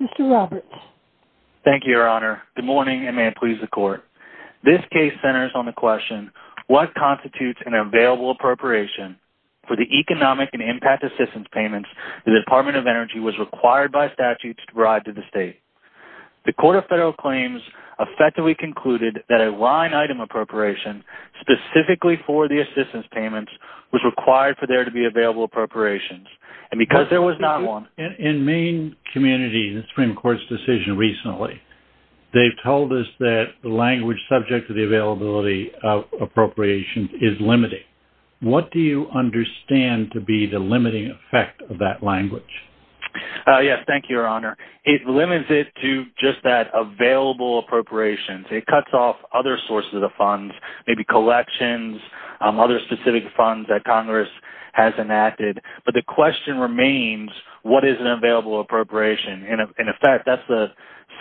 Mr. Roberts. Thank you, Your Honor. Good morning and may it please the Court. This case centers on the question, what constitutes an available appropriation for the economic and impact assistance payments the Department of Energy was required by statutes to provide to the line item appropriation specifically for the assistance payments was required for there to be available appropriations and because there was not one. In Maine community, the Supreme Court's decision recently, they've told us that the language subject to the availability of appropriations is limiting. What do you understand to be the limiting effect of that language? Yes, thank you, Your Honor. It limits it to just that available appropriations. It cuts off other sources of funds, maybe collections, other specific funds that Congress has enacted. But the question remains, what is an available appropriation? In effect, that's the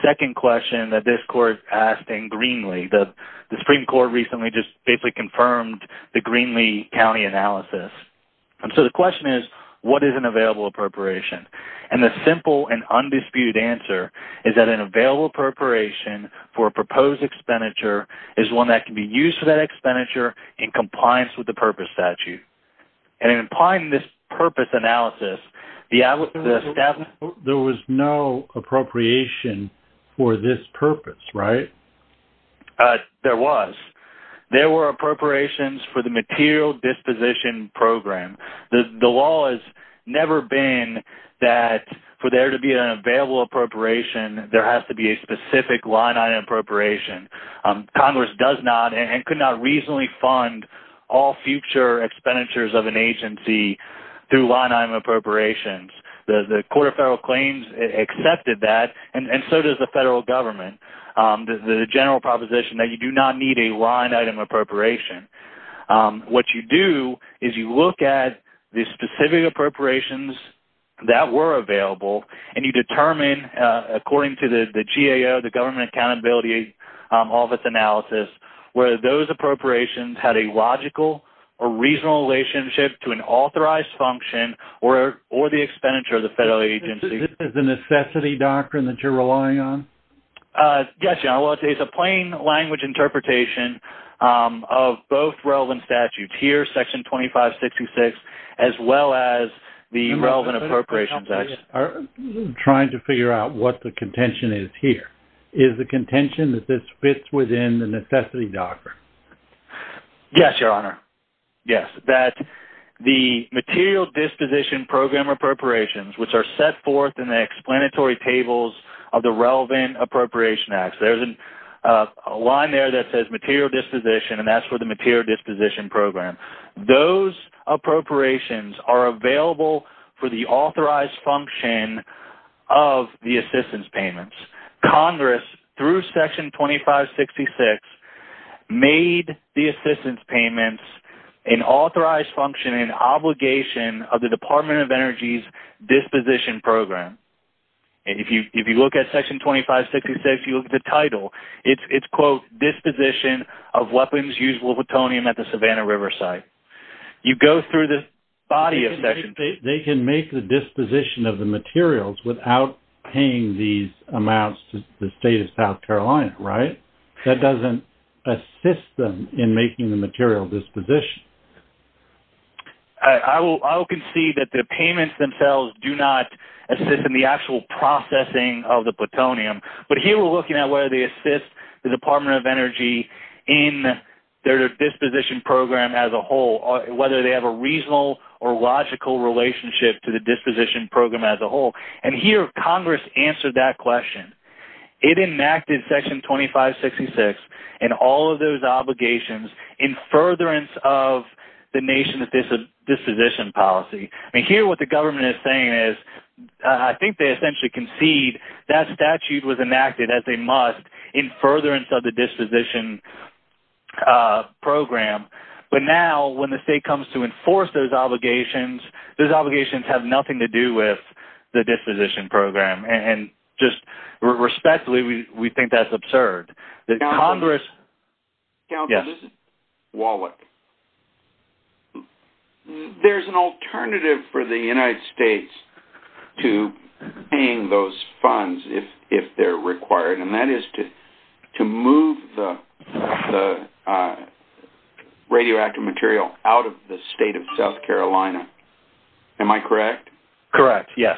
second question that this Court asked in Greenlee. The Supreme Court recently just basically confirmed the Greenlee County analysis. And so the question is, what is an available appropriation? And the simple and undisputed answer is that an available appropriation for a proposed expenditure is one that can be used for that expenditure in compliance with the purpose statute. And in applying this purpose analysis, there was no appropriation for this purpose, right? There was. There were appropriations for the material disposition program. The law has never been that for there to be an available appropriation, there has to be a specific line-item appropriation. Congress does not and could not reasonably fund all future expenditures of an agency through line-item appropriations. The Court of Federal Claims accepted that, and so does the federal government. The general proposition that you do not need a line-item appropriation. What you do is you look at the specific appropriations that were available, and you determine, according to the GAO, the Government Accountability Office analysis, whether those appropriations had a logical or reasonable relationship to an authorized function or the expenditure of the federal agency. This is the necessity doctrine that you're relying on? Yes, General. It's a plain language interpretation of both relevant statutes here, Section 2566, as well as the relevant appropriations act. I'm trying to figure out what the contention is here. Is the contention that this fits within the necessity doctrine? Yes, Your Honor. Yes. That the material disposition program appropriations, which are set forth in the explanatory tables of the relevant appropriation acts-there's a line there that states that the relevant appropriations are available for the authorized function of the assistance payments. Congress, through Section 2566, made the assistance payments an authorized function and obligation of the Department of Energy's disposition program. If you look at Section 2566, if you look at the title, it's, quote, disposition of weapons used with plutonium at the Savannah River site. You go through this body of section... They can make the disposition of the materials without paying these amounts to the state of South Carolina, right? That doesn't assist them in making the material disposition. I will concede that the payments themselves do not assist in the actual processing of the plutonium, but here we're looking at whether they assist the Department of Energy in their disposition program as a whole, whether they have a reasonable or logical relationship to the disposition program as a whole. And here Congress answered that question. It enacted Section 2566 and all of those obligations in furtherance of the nation's disposition policy. I mean, here what the government is saying is, I think they essentially concede that statute was enacted, as they must, in furtherance of the disposition program, but now when the state comes to enforce those obligations, those obligations have nothing to do with the disposition program. And just respectfully, we think that's absurd. Congressman Wallach, there's an alternative for the United States to paying those funds if they're required, and that is to move the radioactive material out of the state of South Carolina. Am I correct? Correct, yes.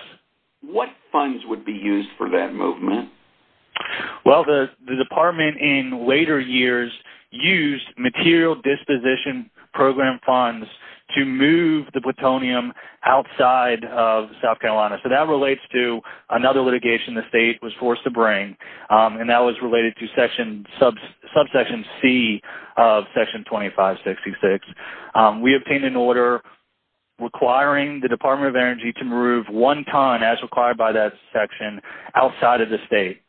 What funds would be used for that movement? Well, the Department in later years used material disposition program funds to move the plutonium outside of South Carolina. So that relates to another litigation the state was forced to bring, and that was related to Subsection C of Section 2566. We obtained an order requiring the Department of Energy to move one ton as required by that section outside of the state.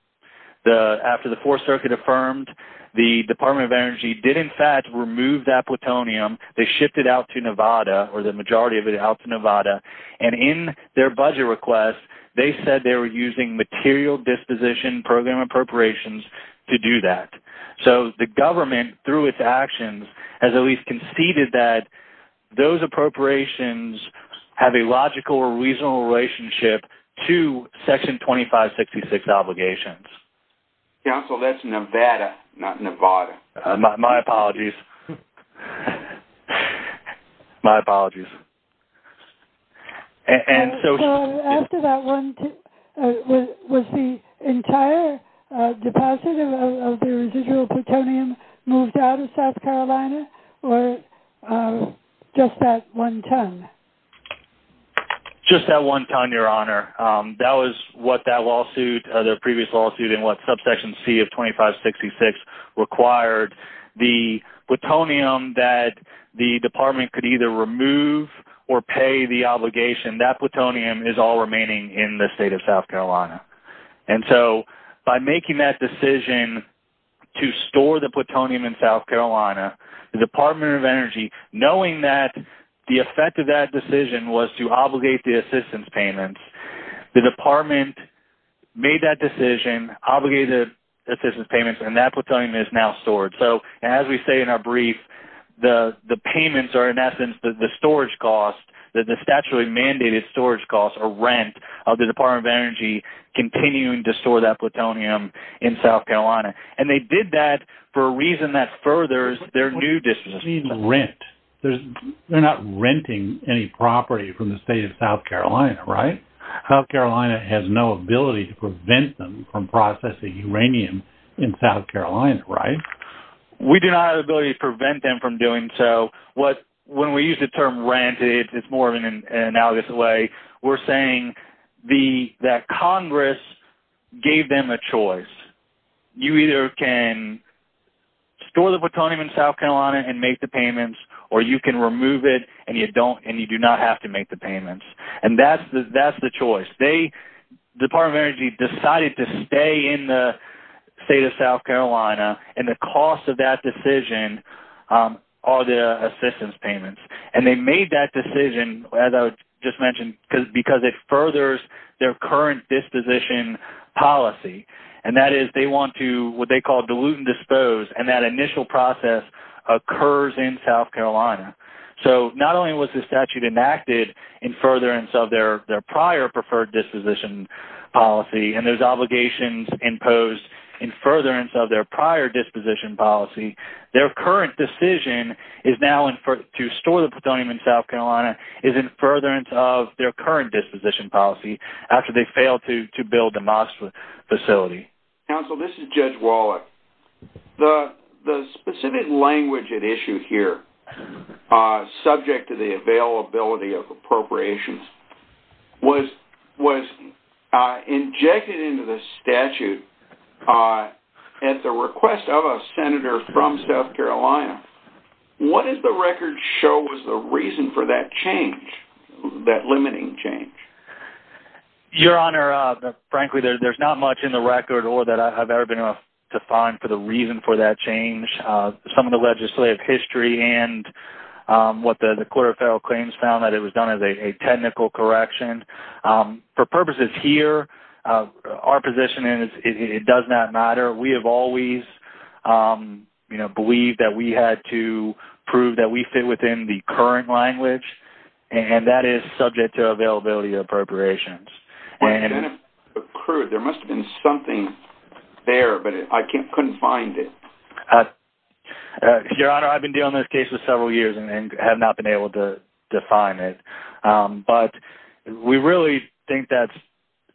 After the Fourth Circuit affirmed, the Department of Energy did in fact remove that plutonium. They shipped it out to Nevada, or the majority of it out to Nevada, and in their budget request, they said they were using material disposition program appropriations to do that. So the government, through its actions, has at least conceded that those appropriations have a logical or reasonable relationship to Section 2566 obligations. Council, that's Nevada, not Nevada. My apologies. My apologies. So after that, was the entire deposit of the residual plutonium moved out of South Carolina, or just that one ton? Just that one ton, Your Honor. That was what that previous lawsuit and what Subsection C of 2566 required. The plutonium that the Department could either remove or pay the obligation, that plutonium is all remaining in the state of South Carolina. So by making that decision to store the plutonium in South Carolina, the Department of Energy, knowing that the effect of that decision was to obligate the assistance payments, the Department made that decision, obligated the assistance payments, and that plutonium is now stored. So as we say in our brief, the payments are in essence the storage costs, the statutorily mandated storage costs, or rent, of the Department of Energy continuing to store that plutonium in South Carolina. And they did that for a reason that furthers their new disposition. What do you mean rent? They're not renting any property from the state of South Carolina, right? South Carolina has no ability to prevent them from processing uranium in South Carolina, right? We do not have the ability to prevent them from doing so. When we use the term rent, it's more of an analogous way. We're saying that Congress gave them a choice. You either can store the plutonium in South Carolina and make the payments, or you can remove it and you do not have to make the payments. And that's the choice. They, the Department of Energy, decided to stay in the state of South Carolina, and the cost of that decision are the assistance payments. And they made that decision, as I just mentioned, because it furthers their current disposition policy. And that is, they want to, what they call, dilute and dispose. And that initial process occurs in South Carolina. So, not only was this statute enacted in furtherance of their prior preferred disposition policy, and those obligations imposed in furtherance of their prior disposition policy, their current decision is now to store the plutonium in South Carolina is in furtherance of their current disposition policy, after they failed to build the MOSFET facility. Counsel, this is Judge Wallach. The specific language at issue here, subject to the availability of appropriations, was injected into the statute at the request of a senator from South Carolina. What does the record show was the reason for that change, that limiting change? Your Honor, frankly, there's not much in the record or that I've ever been able to find for the reason for that change. Some of the legislative history and what the Court of Federal Claims found that it was done as a technical correction. For purposes here, our position is it does not matter. We have always, you know, believed that we had to prove that we fit within the current language, and that is subject to availability of appropriations. There must have been something there, but I couldn't find it. Your Honor, I've been dealing with this case for several years and have not been able to define it, but we really think that's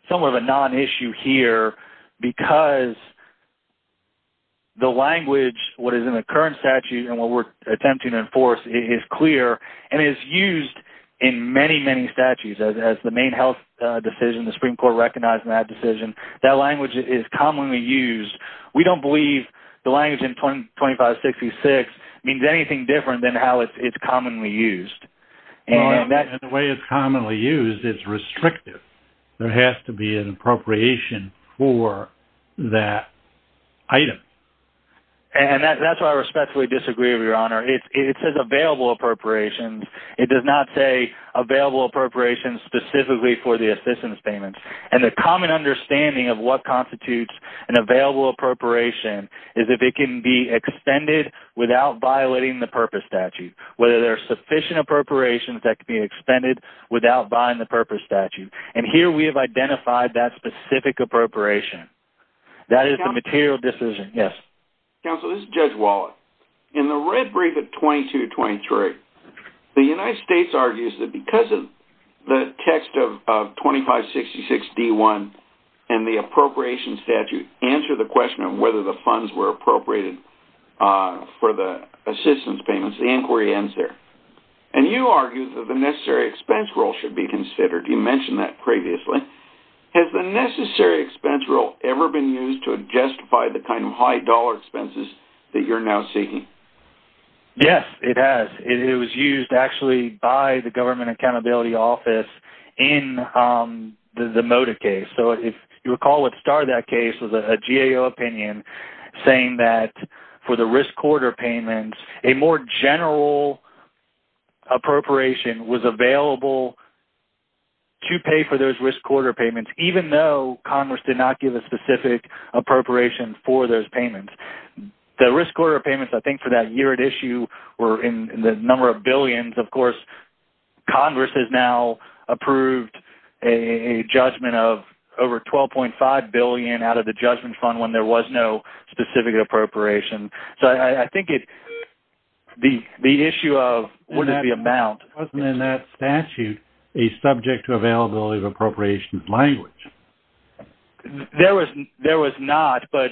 somewhat of a non-issue here because the language, what is in the current statute and what we're attempting to enforce is clear and is used in many, many statutes. As the Maine Health decision, the Supreme Court recognized that decision, that language is commonly used. We don't believe the language in 2566 means anything different than how it's commonly used. Your Honor, in the way it's commonly used, it's restrictive. There has to be an appropriation for that item. And that's why I respectfully disagree with you, Your Honor. It says available appropriations. It does not say available appropriations specifically for the assistance payments. And the common understanding of what constitutes an available appropriation is if it can be extended without violating the purpose statute, whether there's sufficient appropriations that can be extended without violating the purpose statute. And here we have identified that specific appropriation. That is the material decision. Yes. Counsel, this is Judge Wallet. In the red brief at 2223, the United States argues that because of the text of 2566 D1 and the appropriation statute answer the question of whether the funds were appropriated for the assistance payments, the inquiry ends there. And you argue that the necessary expense rule should be considered. You mentioned that previously. Has the necessary expense rule ever been used to justify the kind of high dollar expenses that you're now seeking? Yes, it has. It was used actually by the Government Accountability Office in the Moda case. So if you recall what started that case was a GAO opinion saying that for the risk quarter payments, a more general appropriation was available to pay for those risk quarter payments even though Congress did not give a specific appropriation for those payments. The risk quarter payments I think for that year at issue were in the number of billions. Of course, Congress has now approved a judgment of over $12.5 billion out of the judgment fund when there was no specific appropriation. So I think the issue of what is the amount... Wasn't in that statute a subject to availability of appropriations language? There was not, but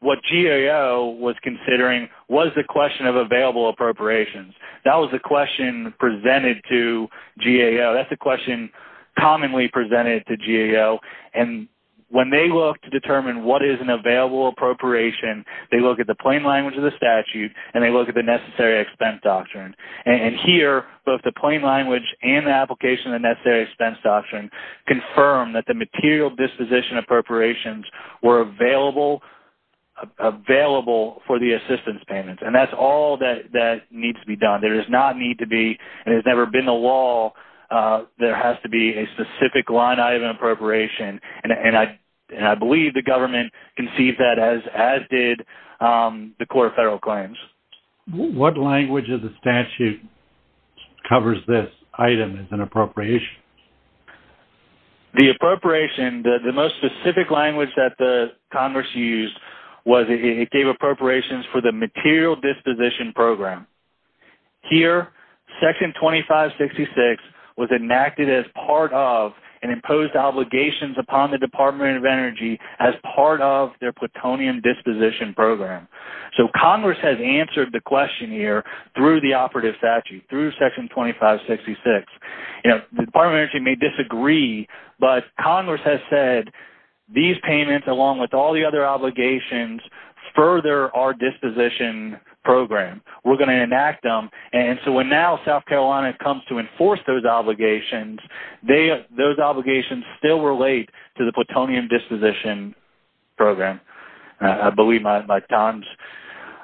what GAO was considering was the question of available appropriations. That was the question presented to GAO. That's the question commonly presented to GAO. And when they look to determine what is an available appropriation, they look at the plain language of the statute and they look at the necessary expense doctrine. And here, both the plain language and the application of the necessary expense doctrine confirm that the material disposition appropriations were available for the assistance payments. And that's all that needs to be done. There does not need to be, and it's never been the law, there has to be a specific line item appropriation. And I believe the government conceived that as did the court of federal claims. What language of the statute covers this item as an appropriation? The appropriation, the most specific language that the Congress used was it gave appropriations for the material disposition program. Here, section 2566 was enacted as part of and imposed obligations upon the Department of Energy as part of their plutonium disposition program. So Congress has answered the question here through the operative statute, through section 2566. The Department of Energy may disagree, but Congress has said these payments along with all the other obligations further our disposition program. We're going to enact them. And so when now South Carolina comes to enforce those obligations, those obligations still relate to the plutonium disposition program. I believe my time's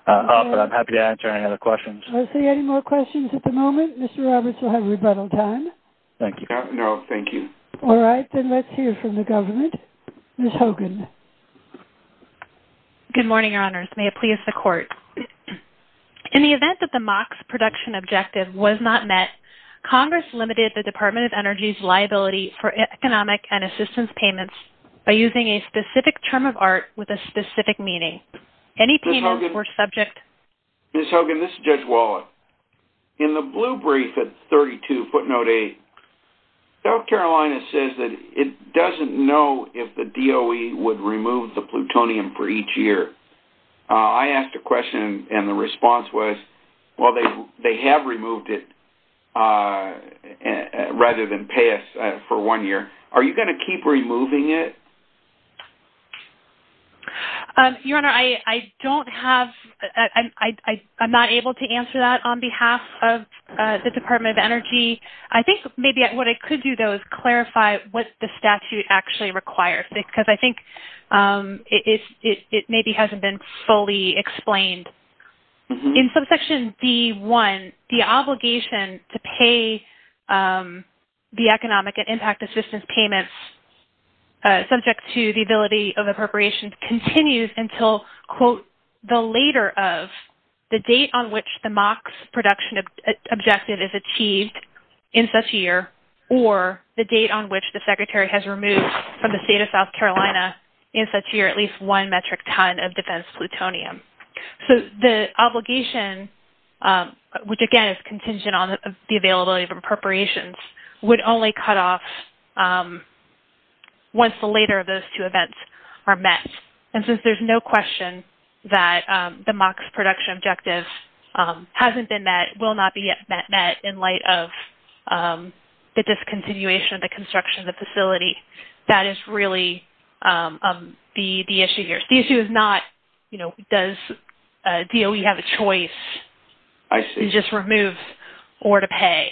up, but I'm happy to answer any other questions. I see any more questions at the moment. Mr. Roberts will have rebuttal time. Thank you. No, thank you. All right, then let's hear from the government. Ms. Hogan. Good morning, Your Honors. May it please the court. In the event that the MOCS production objective was not met, Congress limited the Department of Energy's liability for economic and assistance payments by using a specific term of art with a specific meaning. Any payments were subject... Ms. Hogan, this is Judge Wallet. In the blue brief at 32 footnote 8, South Carolina's government says that it doesn't know if the DOE would remove the plutonium for each year. I asked a question, and the response was, well, they have removed it rather than pay us for one year. Are you going to keep removing it? Your Honor, I don't have... I'm not able to answer that on behalf of the Department of Energy, what the statute actually requires, because I think it maybe hasn't been fully explained. In subsection D1, the obligation to pay the economic and impact assistance payments subject to the ability of appropriation continues until, quote, the later of the date on which the MOCS production objective is achieved in such a year or the date on which the Secretary has removed from the state of South Carolina in such a year at least one metric ton of defense plutonium. The obligation, which again is contingent on the availability of appropriations, would only cut off once the later of those two events are met. Since there's no question that the obligation hasn't been met, will not be met in light of the discontinuation of the construction of the facility, that is really the issue here. The issue is not, you know, does DOE have a choice, it just removes, or to pay.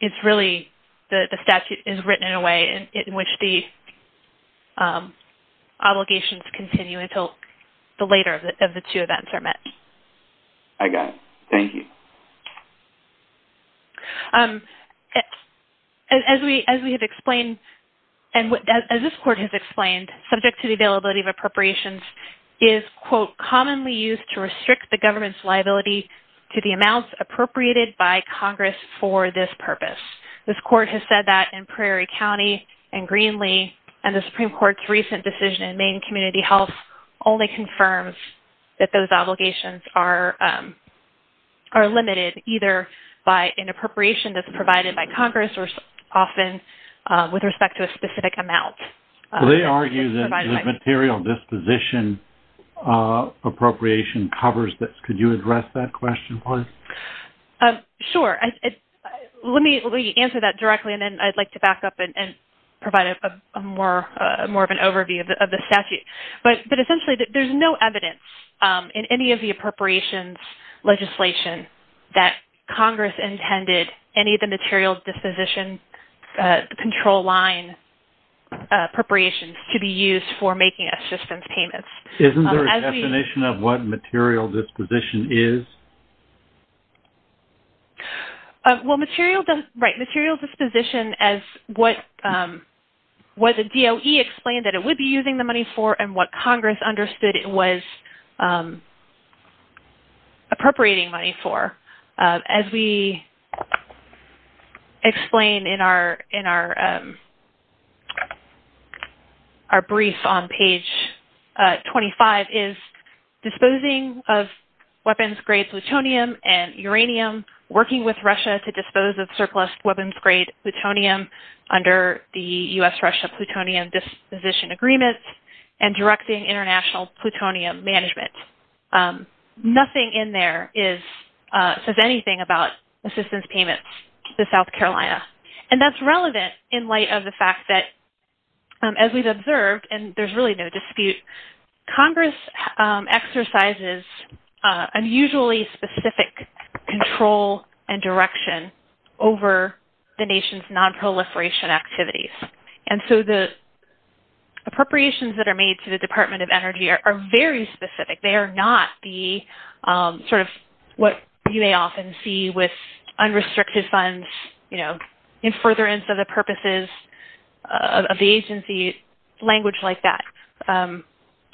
It's really the statute is written in a way in which the obligations continue until the later of the two events are met. I got it. Thank you. As we have explained, and as this court has explained, subject to the availability of appropriations is, quote, commonly used to restrict the government's liability to the amounts appropriated by Congress for this purpose. This court has said that in Prairie County and Greenlee, and the Supreme Court's recent decision in Maine Community Health only confirms that those obligations are limited either by an appropriation that's provided by Congress or often with respect to a specific amount. They argue that the material disposition appropriation covers this. Could you address that question, please? Sure. Let me answer that directly, and then I'd like to back up and provide more of an answer. Essentially, there's no evidence in any of the appropriations legislation that Congress intended any of the material disposition control line appropriations to be used for making assistance payments. Isn't there a definition of what material disposition is? Well, right, material disposition as what the DOE explained that it would be using the money that Congress understood it was appropriating money for. As we explained in our brief on page 25 is disposing of weapons-grade plutonium and uranium, working with Russia to dispose of surplus weapons-grade plutonium under the U.S.-Russia plutonium disposition agreement, and directing international plutonium management. Nothing in there says anything about assistance payments to South Carolina. That's relevant in light of the fact that, as we've observed, and there's really no dispute, Congress exercises unusually specific control and direction over the nation's nonproliferation activities. And so the appropriations that are made to the Department of Energy are very specific. They are not the sort of what you may often see with unrestricted funds in furtherance of the purposes of the agency, language like that.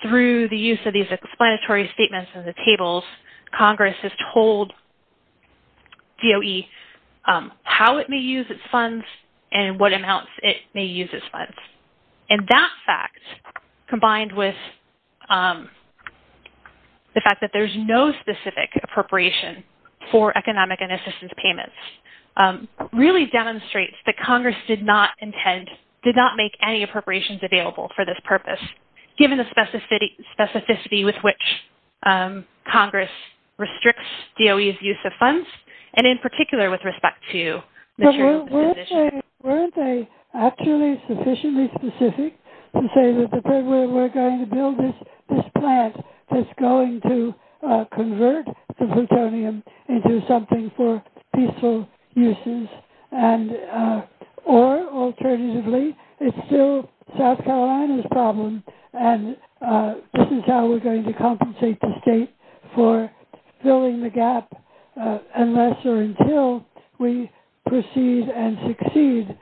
Through the use of these explanatory statements in the tables, Congress has told DOE how it may use its funds and what amounts it may use its funds. And that fact, combined with the fact that there's no specific appropriation for economic and assistance payments, really demonstrates that Congress did not make any specificity with which Congress restricts DOE's use of funds, and in particular with respect to material disposition. But weren't they actually sufficiently specific to say that we're going to build this plant that's going to convert the plutonium into something for peaceful uses? Or, alternatively, it's still South Carolina's problem, and this is how we're going to compensate the state for filling the gap unless or until we proceed and succeed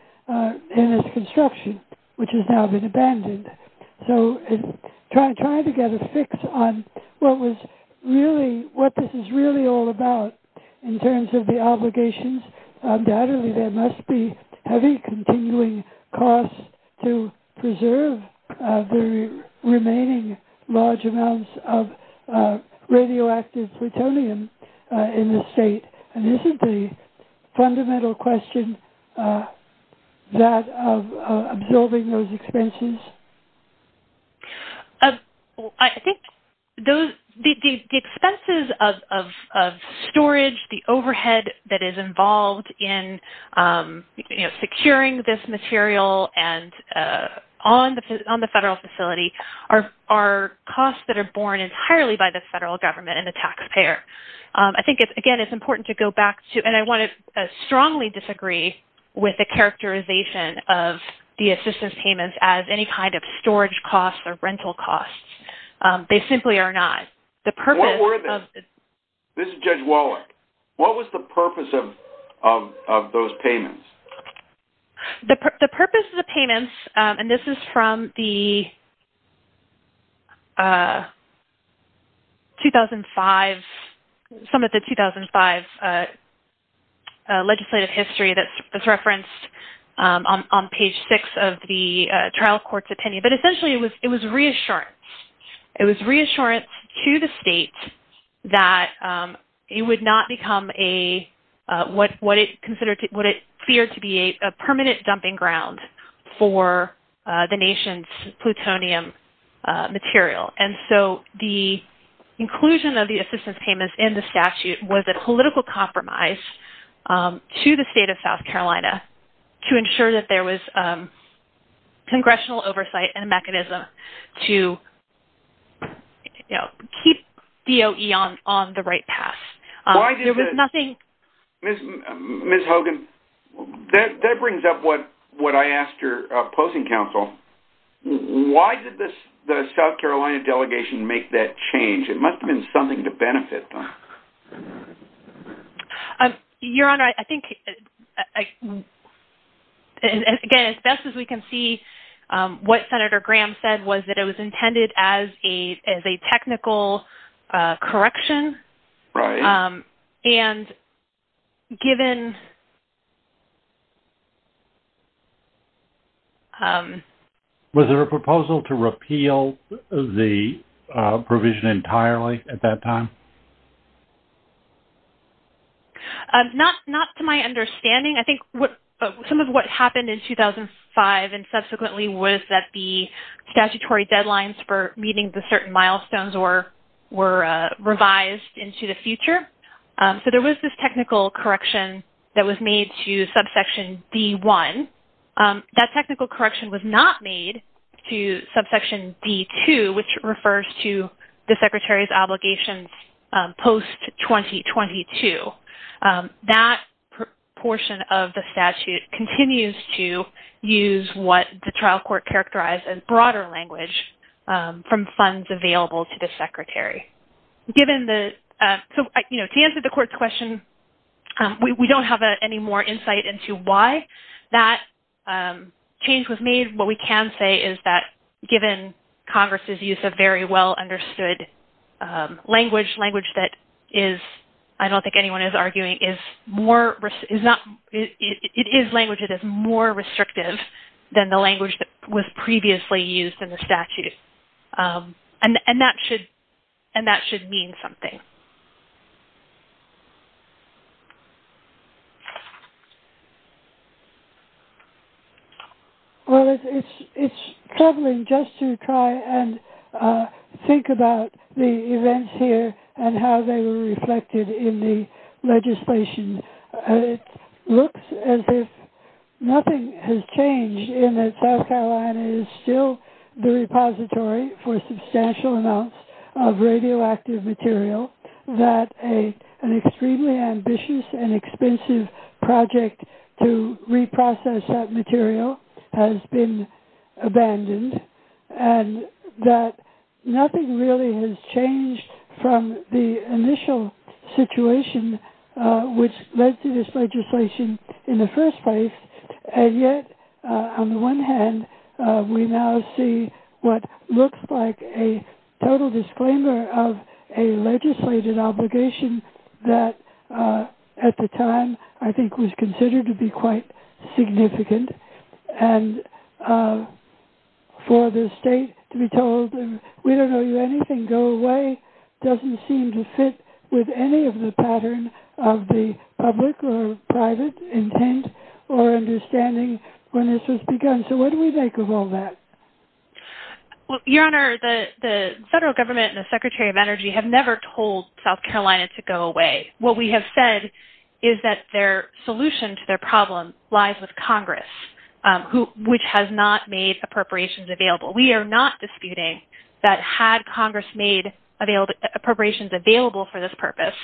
in its construction, which has now been abandoned. So trying to get a fix on what this is really all about in terms of the obligations, undoubtedly there must be heavy continuing costs to preserve the remaining large amounts of radioactive plutonium in the state. And isn't the fundamental question that of absorbing those expenses? I think the expenses of storage, the overhead that is involved in the construction of the facility, securing this material on the federal facility, are costs that are borne entirely by the federal government and the taxpayer. I think, again, it's important to go back to, and I want to strongly disagree with the characterization of the assistance payments as any kind of storage costs or rental costs. They simply are not. This is Judge Wallach. What was the purpose of those payments? The purpose of the payments, and this is from the 2005, some of the 2005 legislative history that's referenced on page 6 of the trial court's opinion, but essentially it was reassurance. It was reassurance to the state that it would not become what it feared to be a permanent dumping ground for the nation's plutonium material. And so the inclusion of the assistance payments in the statute was a political compromise to the state of South Carolina to ensure that there was congressional oversight and a mechanism to keep DOE on the right path. Ms. Hogan, that brings up what I asked your opposing counsel. Why did the South Carolina delegation make that change? It must have been something to benefit them. Your Honor, I think, again, as best as we can see, what Senator Graham said about the 2005 was that it was intended as a technical correction. Was there a proposal to repeal the provision entirely at that time? Not to my understanding. I think some of what happened in 2005 and subsequently was that the statutory deadlines for meeting the certain milestones were revised into the future. So there was this technical correction that was made to subsection D-1. That technical correction was not made to subsection D-2, which refers to the Secretary's obligations post-2022. That portion of the statute continues to use what the trial court characterized as broader language from funds available to the Secretary. To answer the court's question, we don't have any more insight into why that change was made. What we can say is that given Congress's use of very well-understood language, language that is, I don't think anyone is arguing, it is language that is more restrictive than the language that was previously used in the statute. And that should mean something. Well, it's troubling just to try and think about the events here and how they were reflected in the legislation. It looks as if nothing has changed in that South Carolina is still the repository for substantial amounts of radioactive material, that an extremely ambitious and expensive project to reprocess that material has been abandoned, and that nothing really has changed from the initial situation which led to this legislation in the first place. And yet, on the one hand, we now see what looks like a total disclaimer of a legislated obligation that, at the time, I think was considered to be quite significant. And for the state to be told, we don't owe you anything, go away, doesn't seem to fit with any of the pattern of the public or private intent or understanding when this was begun. So what do we make of all that? Your Honor, the federal government and the Secretary of Energy have never told South Carolina to go away. What we have said is that their solution to their problem lies with Congress, which has not made appropriations available. We are not disputing that had Congress made appropriations available for this purpose,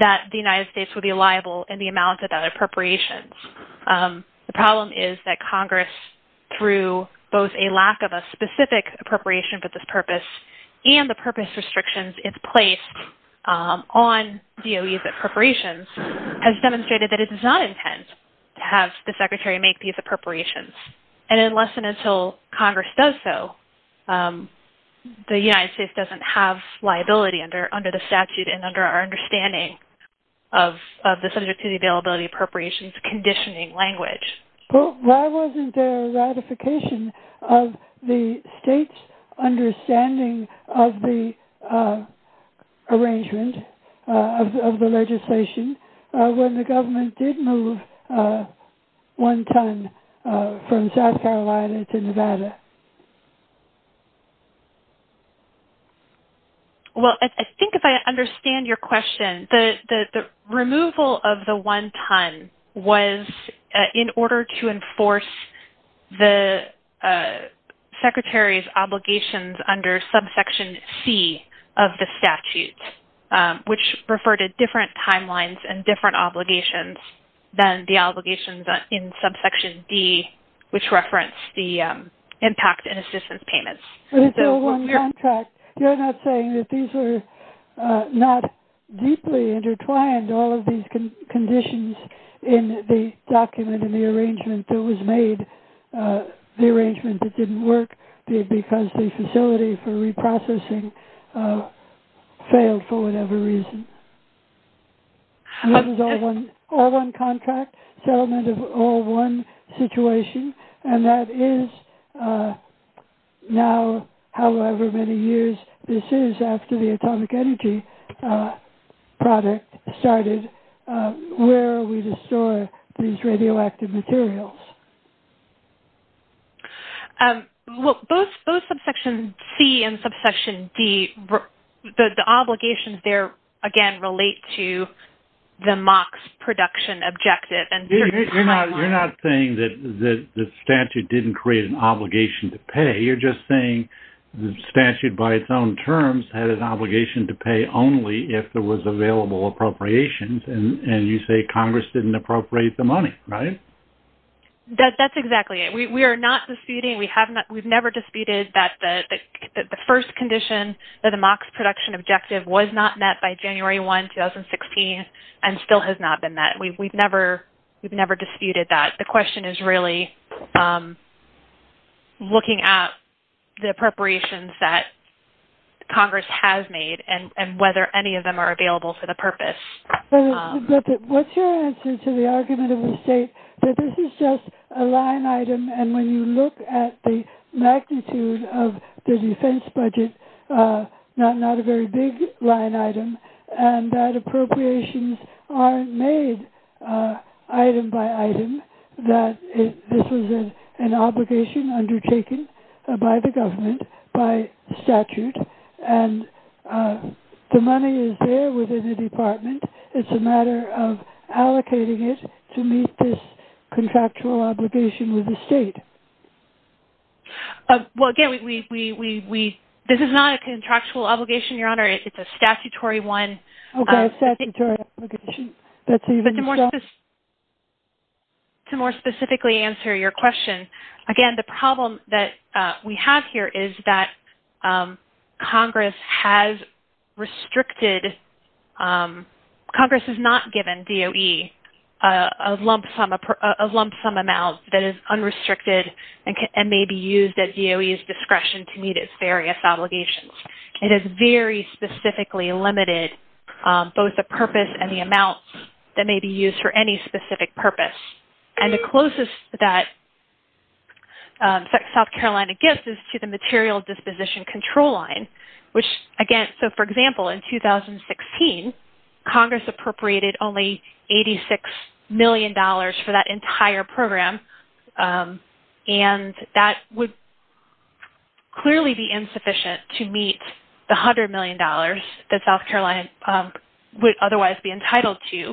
that the United States would be liable in the amount of that appropriations. The problem is that Congress, through both a lack of a specific appropriation for this purpose and the purpose restrictions it's placed on DOEs and appropriations, has demonstrated that it is not intent to have the Secretary make these appropriations. And unless and until Congress does so, the United States doesn't have liability under the statute and under our understanding of the subject to the availability appropriations conditioning language. Well, why wasn't there a ratification of the state's understanding of the arrangement of the legislation when the government did move one ton from South Carolina to Nevada? Well, I think if I understand your question, the removal of the one ton was in order to enforce the Secretary's obligations under subsection C of the statute. So the removal which referred to different timelines and different obligations than the obligations in subsection D, which referenced the impact and assistance payments. But it's still one contract. You're not saying that these were not deeply intertwined, all of these conditions in the document and the arrangement that was made, the arrangement that didn't work because the facility for reprocessing failed for whatever reason. This is all one contract, settlement of all one situation. And that is now however many years this is after the atomic energy product started, where are we to store these radioactive materials? Well, both subsection C and subsection D, the obligations there again relate to the MOCS production objective and... You're not saying that the statute didn't create an obligation to pay. You're just saying the statute by its own terms had an obligation to pay only if there was available appropriations. And you say Congress didn't appropriate the money, right? That's exactly it. We are not disputing, we have not, we've never disputed that the first condition that the MOCS production objective was not met by January 1, 2016 and still has not been met. We've never disputed that. The question is really looking at the appropriations that Congress has made and whether any of them are available for the purpose. But what's your answer to the argument of the state that this is just a line item and when you look at the magnitude of the defense budget, not a very big line item, and that appropriations aren't made item by item, that this was an obligation undertaken by the government, by statute, and the money is there within the department. It's a matter of allocating it to meet this contractual obligation with the state. Well, again, we... This is not a contractual obligation, Your Honor. It's a statutory one. Okay, a statutory obligation. That's even... But to more specifically answer your question, again, the problem that we have here is that Congress has restricted... Congress has not given DOE a lump sum amount that is unrestricted and may be used at DOE's discretion to meet its various obligations. It has very specifically limited both the purpose and the amount that may be used for any specific purpose. And the closest that South Carolina gets is to the material disposition control line, which again... So, for example, in 2016, Congress appropriated only $86 million for that entire program and that would clearly be insufficient to meet the $100 million that South Carolina government would otherwise be entitled to.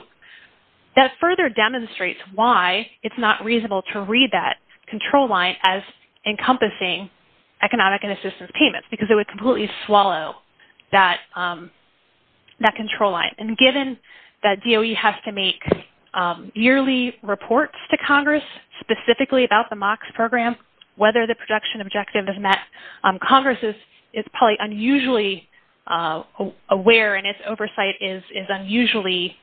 That further demonstrates why it's not reasonable to read that control line as encompassing economic and assistance payments because it would completely swallow that control line. And given that DOE has to make yearly reports to Congress specifically about the MOCS program, whether the production objective is met, Congress is probably unusually aware and its oversight is unusually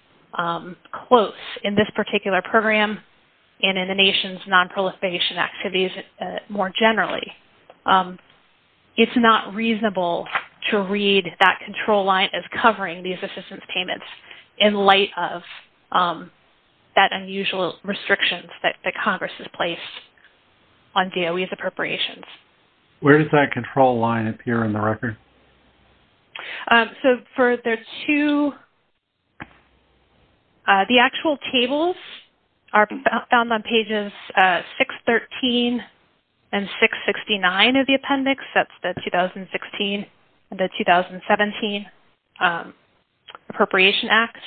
close in this particular program and in the nation's nonproliferation activities more generally. It's not reasonable to read that control line as covering these assistance payments in light of that unusual restriction that Congress has placed on DOE. Where does that control line appear in the record? The actual tables are found on pages 613 and 669 of the appendix. That's the 2016 and the 2017 appropriation acts.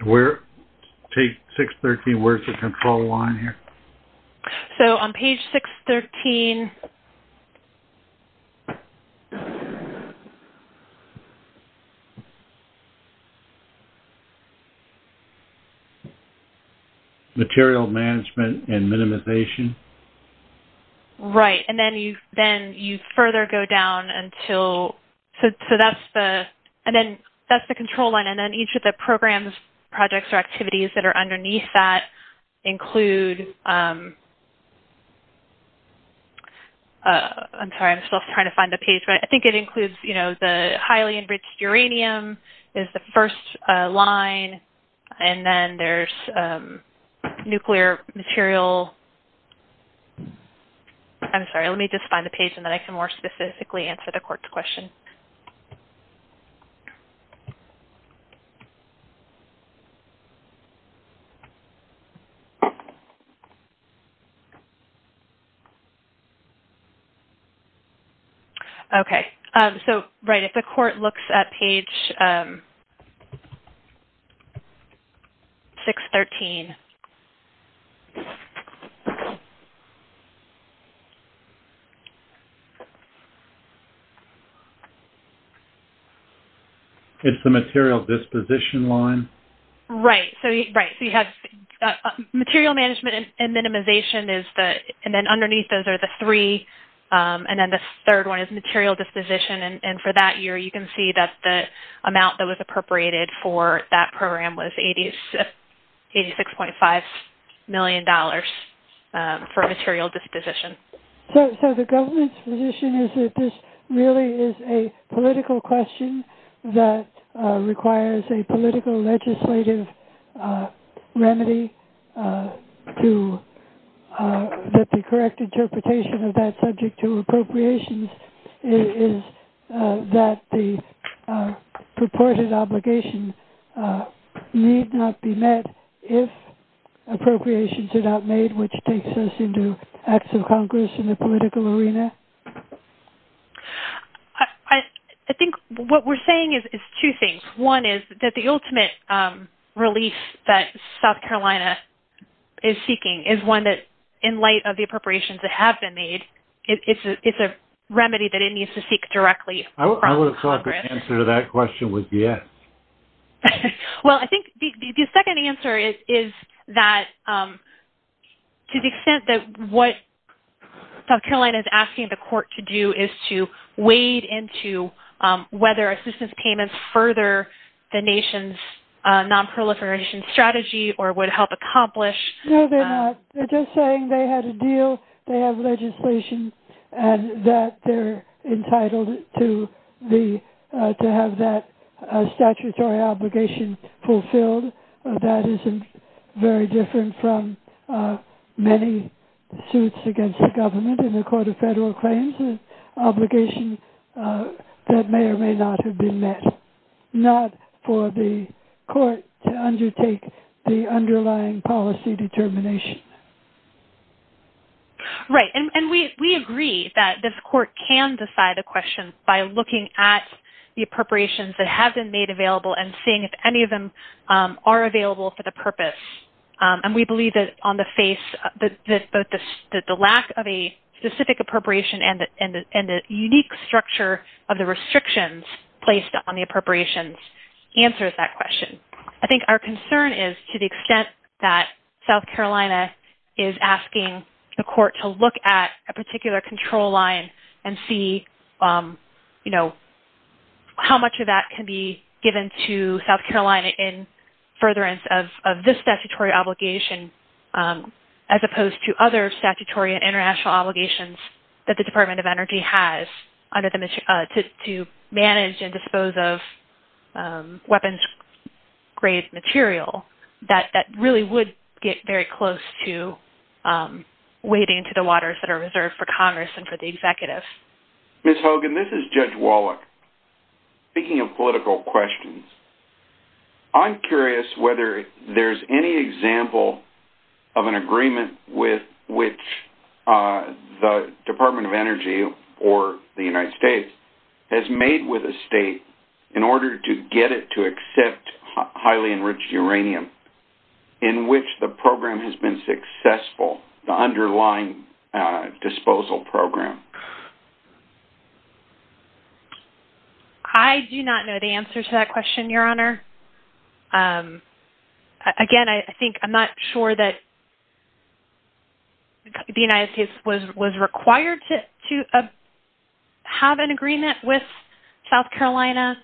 And where... Take 613, where's the control line here? So on page 613... Material management and minimization. Right. And then you further go down until... So that's the... And then that's the control line. And then each of the programs, projects, or activities that are underneath that include... I'm sorry. I'm still trying to find the page. But I think it includes, you know, the highly enriched uranium is the first line. And then there's nuclear material, and then there's the... I'm sorry. Let me just find the page and then I can more specifically answer the court's question. Okay. So, right. If the court looks at page 613... It's the material disposition line. Right. So you have material management and minimization is the... And then underneath those are the three. And then the third one is material disposition. And for that year, you can see that the amount that was appropriated for that program was $86.5 million for the material disposition. So the government's position is that this really is a political question that requires a political legislative remedy to... That the correct interpretation of that subject to appropriations is that the purported obligation need not be met if appropriations are not made, which takes us into acts of Congress in the political arena? I think what we're saying is two things. One is that the ultimate release that South Carolina is seeking is one that in light of the appropriations that have been made, it's a remedy that it needs to seek directly from Congress. I would have thought the answer to that question was yes. Well, I think the second answer is that to the extent that what South Carolina is asking the court to do is to wade into whether assistance payments further the nation's nonproliferation strategy or would help accomplish... No, they're not. They're just saying they had a deal. They have legislation and that they're entitled to have that statutory obligation fulfilled. That isn't very different from many suits against the government in the Court of Federal Claims, an obligation that may or may not have been met, not for the court to undertake the underlying policy determination. Right. And we agree that this court can decide a question by looking at the appropriations that have been made available and seeing if any of them are available for the purpose. And we believe that on the face, that the lack of a specific appropriation and the unique structure of the restrictions placed on the appropriations answers that question. I think our concern is to the extent that South Carolina is asking the court to look at a particular control line and see how much of that can be given to South Carolina in furtherance of this statutory obligation as opposed to other statutory and international obligations that the Department of Energy has to manage and dispose of weapons of mass grave material that really would get very close to wading into the waters that are reserved for Congress and for the executives. Ms. Hogan, this is Judge Wallach. Speaking of political questions, I'm curious whether there's any example of an agreement with which the Department of Energy or the United States has made with a state in order to get it to accept highly enriched uranium in which the program has been successful, the underlying disposal program. I do not know the answer to that question, Your Honor. Again, I think I'm not sure that the United States was required to have an agreement with South Carolina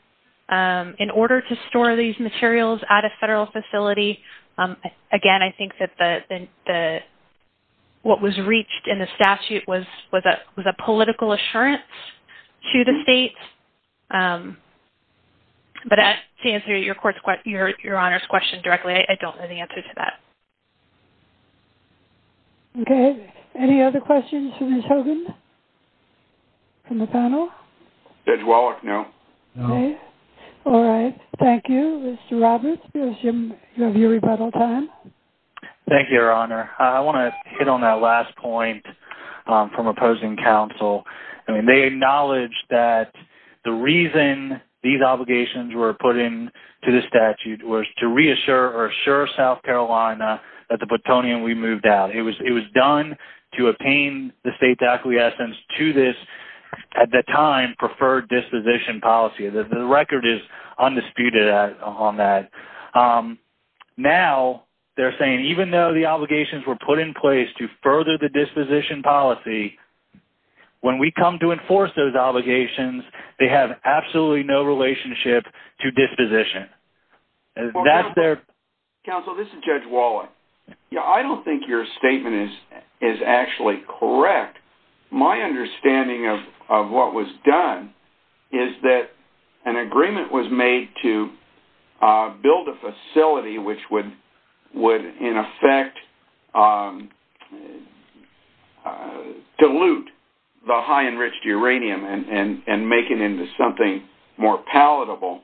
in order to store these materials at a federal facility. Again, I think that what was reached in the statute was a political assurance to the state. But to answer Your Honor's question directly, I don't know the answer to that. Okay. Any other questions for Ms. Hogan from the panel? Judge Wallach, no. Okay. All right. Thank you. Mr. Roberts, we assume you have your rebuttal time. Thank you, Your Honor. I want to hit on that last point from opposing counsel. They acknowledge that the reason these obligations were put into the statute was to reassure South Carolina that the plutonium would be moved out. It was done to obtain the state's acquiescence to this, at the time, preferred disposition policy. The record is undisputed on that. Now they're saying even though the obligations were put in place to further the disposition policy, when we come to enforce those obligations, they have absolutely no relationship to disposition. Counsel, this is Judge Wallach. I don't think your statement is actually correct. My understanding of what was done is that an agreement was made to build a facility which would, in effect, dilute the high enriched uranium and make it into something more palatable.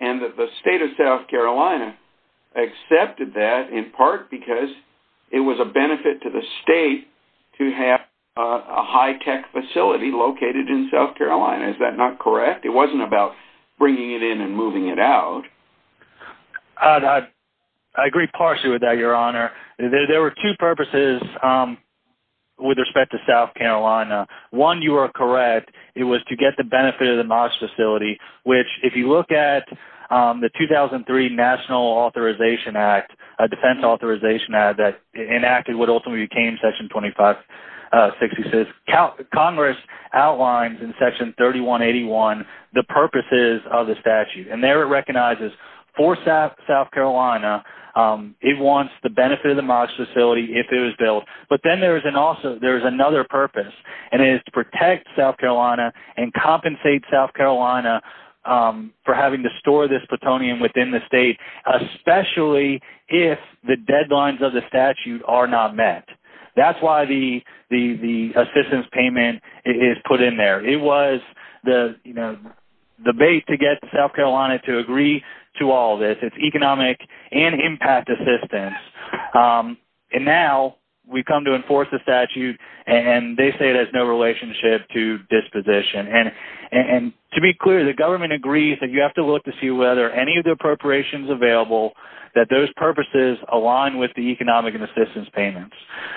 And that the state of South Carolina accepted that in part because it was a benefit to the state to have a high tech facility located in South Carolina. Is that not correct? It wasn't about bringing it in and moving it out. I agree partially with that, Your Honor. There were two purposes with respect to South Carolina. One, you are correct. It was to get the benefit of the MODS facility, which if you look at the 2003 National Defense Authorization Act that enacted what ultimately became Section 2566, Congress outlines in Section 3181 the purposes of the statute. And there it recognizes for South Carolina, it wants the benefit of the MODS facility if it was built. But then there's another purpose, and it is to protect South Carolina and compensate South Carolina for having to store this plutonium within the state, especially if the deadlines of the statute are not met. That's why the assistance payment is put in there. It was the bait to get South Carolina to agree to all this. It's economic and impact assistance. And now we have come to enforce the statute, and they say there's no relationship to disposition. And to be clear, the government agrees that you have to look to see whether any of the appropriations available, that those purposes align with the economic and assistance payments.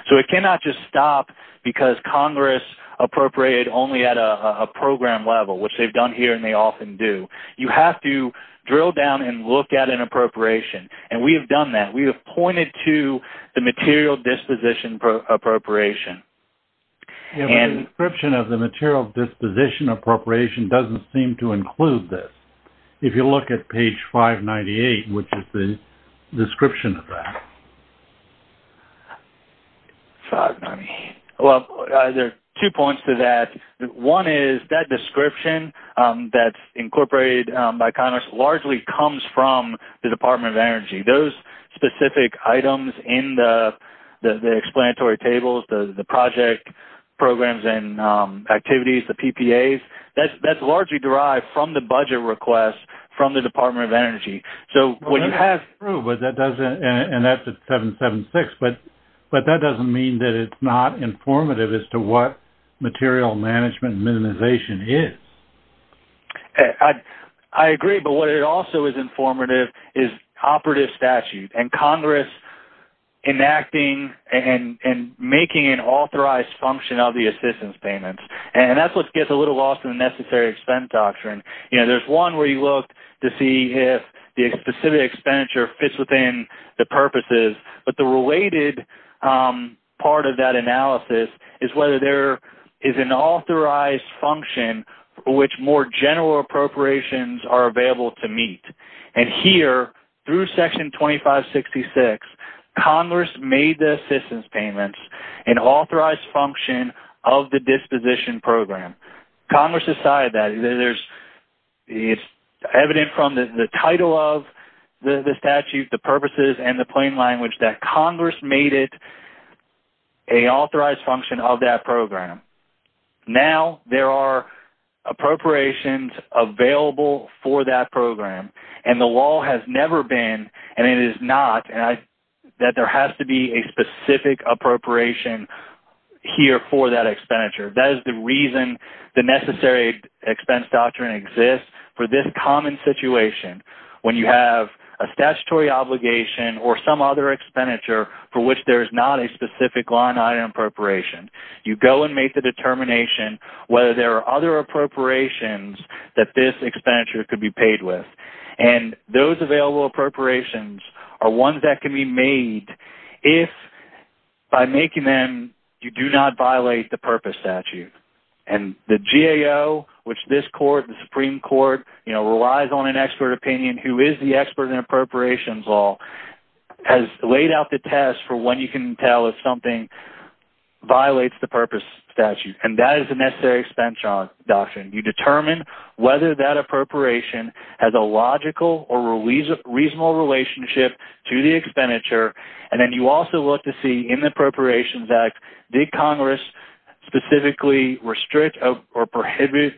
So it cannot just stop because Congress appropriated only at a program level, which they've done here and they often do. You have to drill down and look at an appropriation. And we have done that. We have pointed to the material disposition appropriation. The description of the material disposition appropriation doesn't seem to include this. If you look at page 598, which is the description of that. Well, there are two points to that. One is that description that's incorporated by Congress largely comes from the Department of Energy. Those specific items in the explanatory tables, the project programs and activities, the PPAs, that's largely derived from the budget request from the Department of Energy. So when you have... Well, that's true, but that doesn't... And that's at 776, but that doesn't mean that it's not informative as to what material management and minimization is. I agree, but what it also is informative is operative statute and Congress enacting and making an authorized function of the assistance payments. And that's what gets a little lost in the necessary expense doctrine. There's one where you look to see if the specific expenditure fits within the purposes, but the related part of that analysis is whether there is an authorized function which more general appropriations are available to meet. And here, through section 2566, Congress made the assistance payments an authorized function of the disposition program. Congress decided that. It's evident from the title of the statute, the purposes and the plain language that Congress made it an authorized function of that program. Now there are appropriations available for that program. And the law has never been, and it is not, that there has to be a specific appropriation here for that expenditure. That is the reason the necessary expense doctrine exists for this common situation. When you have a statutory obligation or some other expenditure for which there is not a specific line item appropriation, you go and make the determination whether there are other appropriations that this expenditure could be paid with. And those available appropriations are ones that can be made if, by making them, you do not violate the purpose statute. And the GAO, which this court, the Supreme Court, relies on an expert opinion, who is the expert in appropriations law, has laid out the test for when you can tell if something violates the purpose statute. And that is the necessary expense doctrine. You determine whether that appropriation has a logical or reasonable relationship to the expenditure. And then you also look to see, in the Appropriations Act, did Congress specifically restrict or prohibit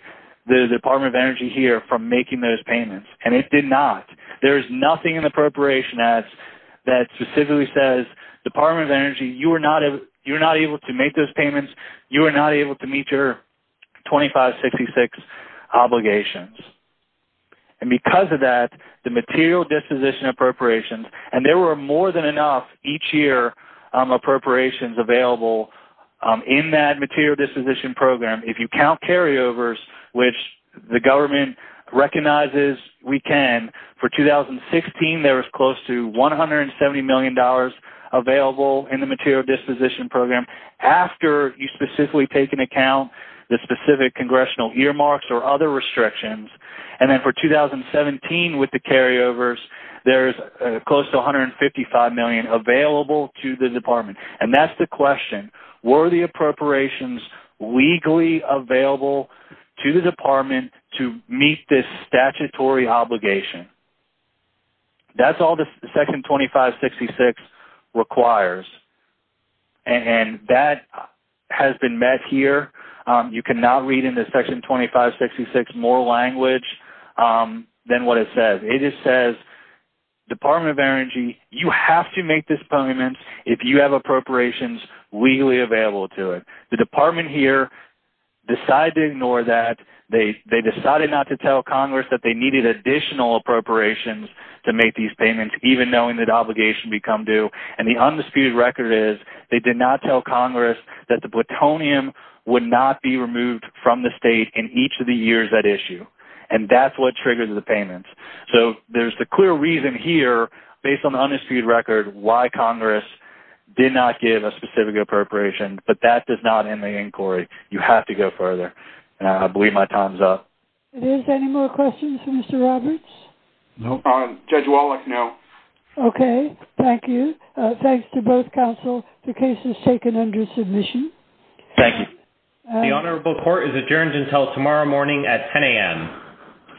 the Department of Energy here from making those payments. And it did not. There is nothing in the Appropriations Act that specifically says, Department of Energy, you are not able to make those payments. You are not able to meet your 2566 obligations. And there were more than enough, each year, appropriations available in that material disposition program. If you count carryovers, which the government recognizes we can, for 2016, there was close to $170 million available in the material disposition program, after you specifically take into account the specific congressional earmarks or other restrictions. And then for $155 million available to the Department. And that is the question. Were the appropriations legally available to the Department to meet this statutory obligation? That is all the Section 2566 requires. And that has been met here. You cannot read into Section 2566 more language than what it says. It just says, Department of Energy, you have to make this payment if you have appropriations legally available to it. The Department here decided to ignore that. They decided not to tell Congress that they needed additional appropriations to make these payments, even knowing that obligations become due. And the undisputed record is, they did not tell Congress that the plutonium would not be removed from the issue. And that is what triggered the payments. So there is a clear reason here, based on the undisputed record, why Congress did not give a specific appropriation. But that does not end the inquiry. You have to go further. And I believe my time is up. It is. Any more questions for Mr. Roberts? No. Judge Wallach, no. Okay. Thank you. Thanks to both counsel. The case is taken under submission. Thank you. The Honorable Court is adjourned until tomorrow morning at 10 a.m.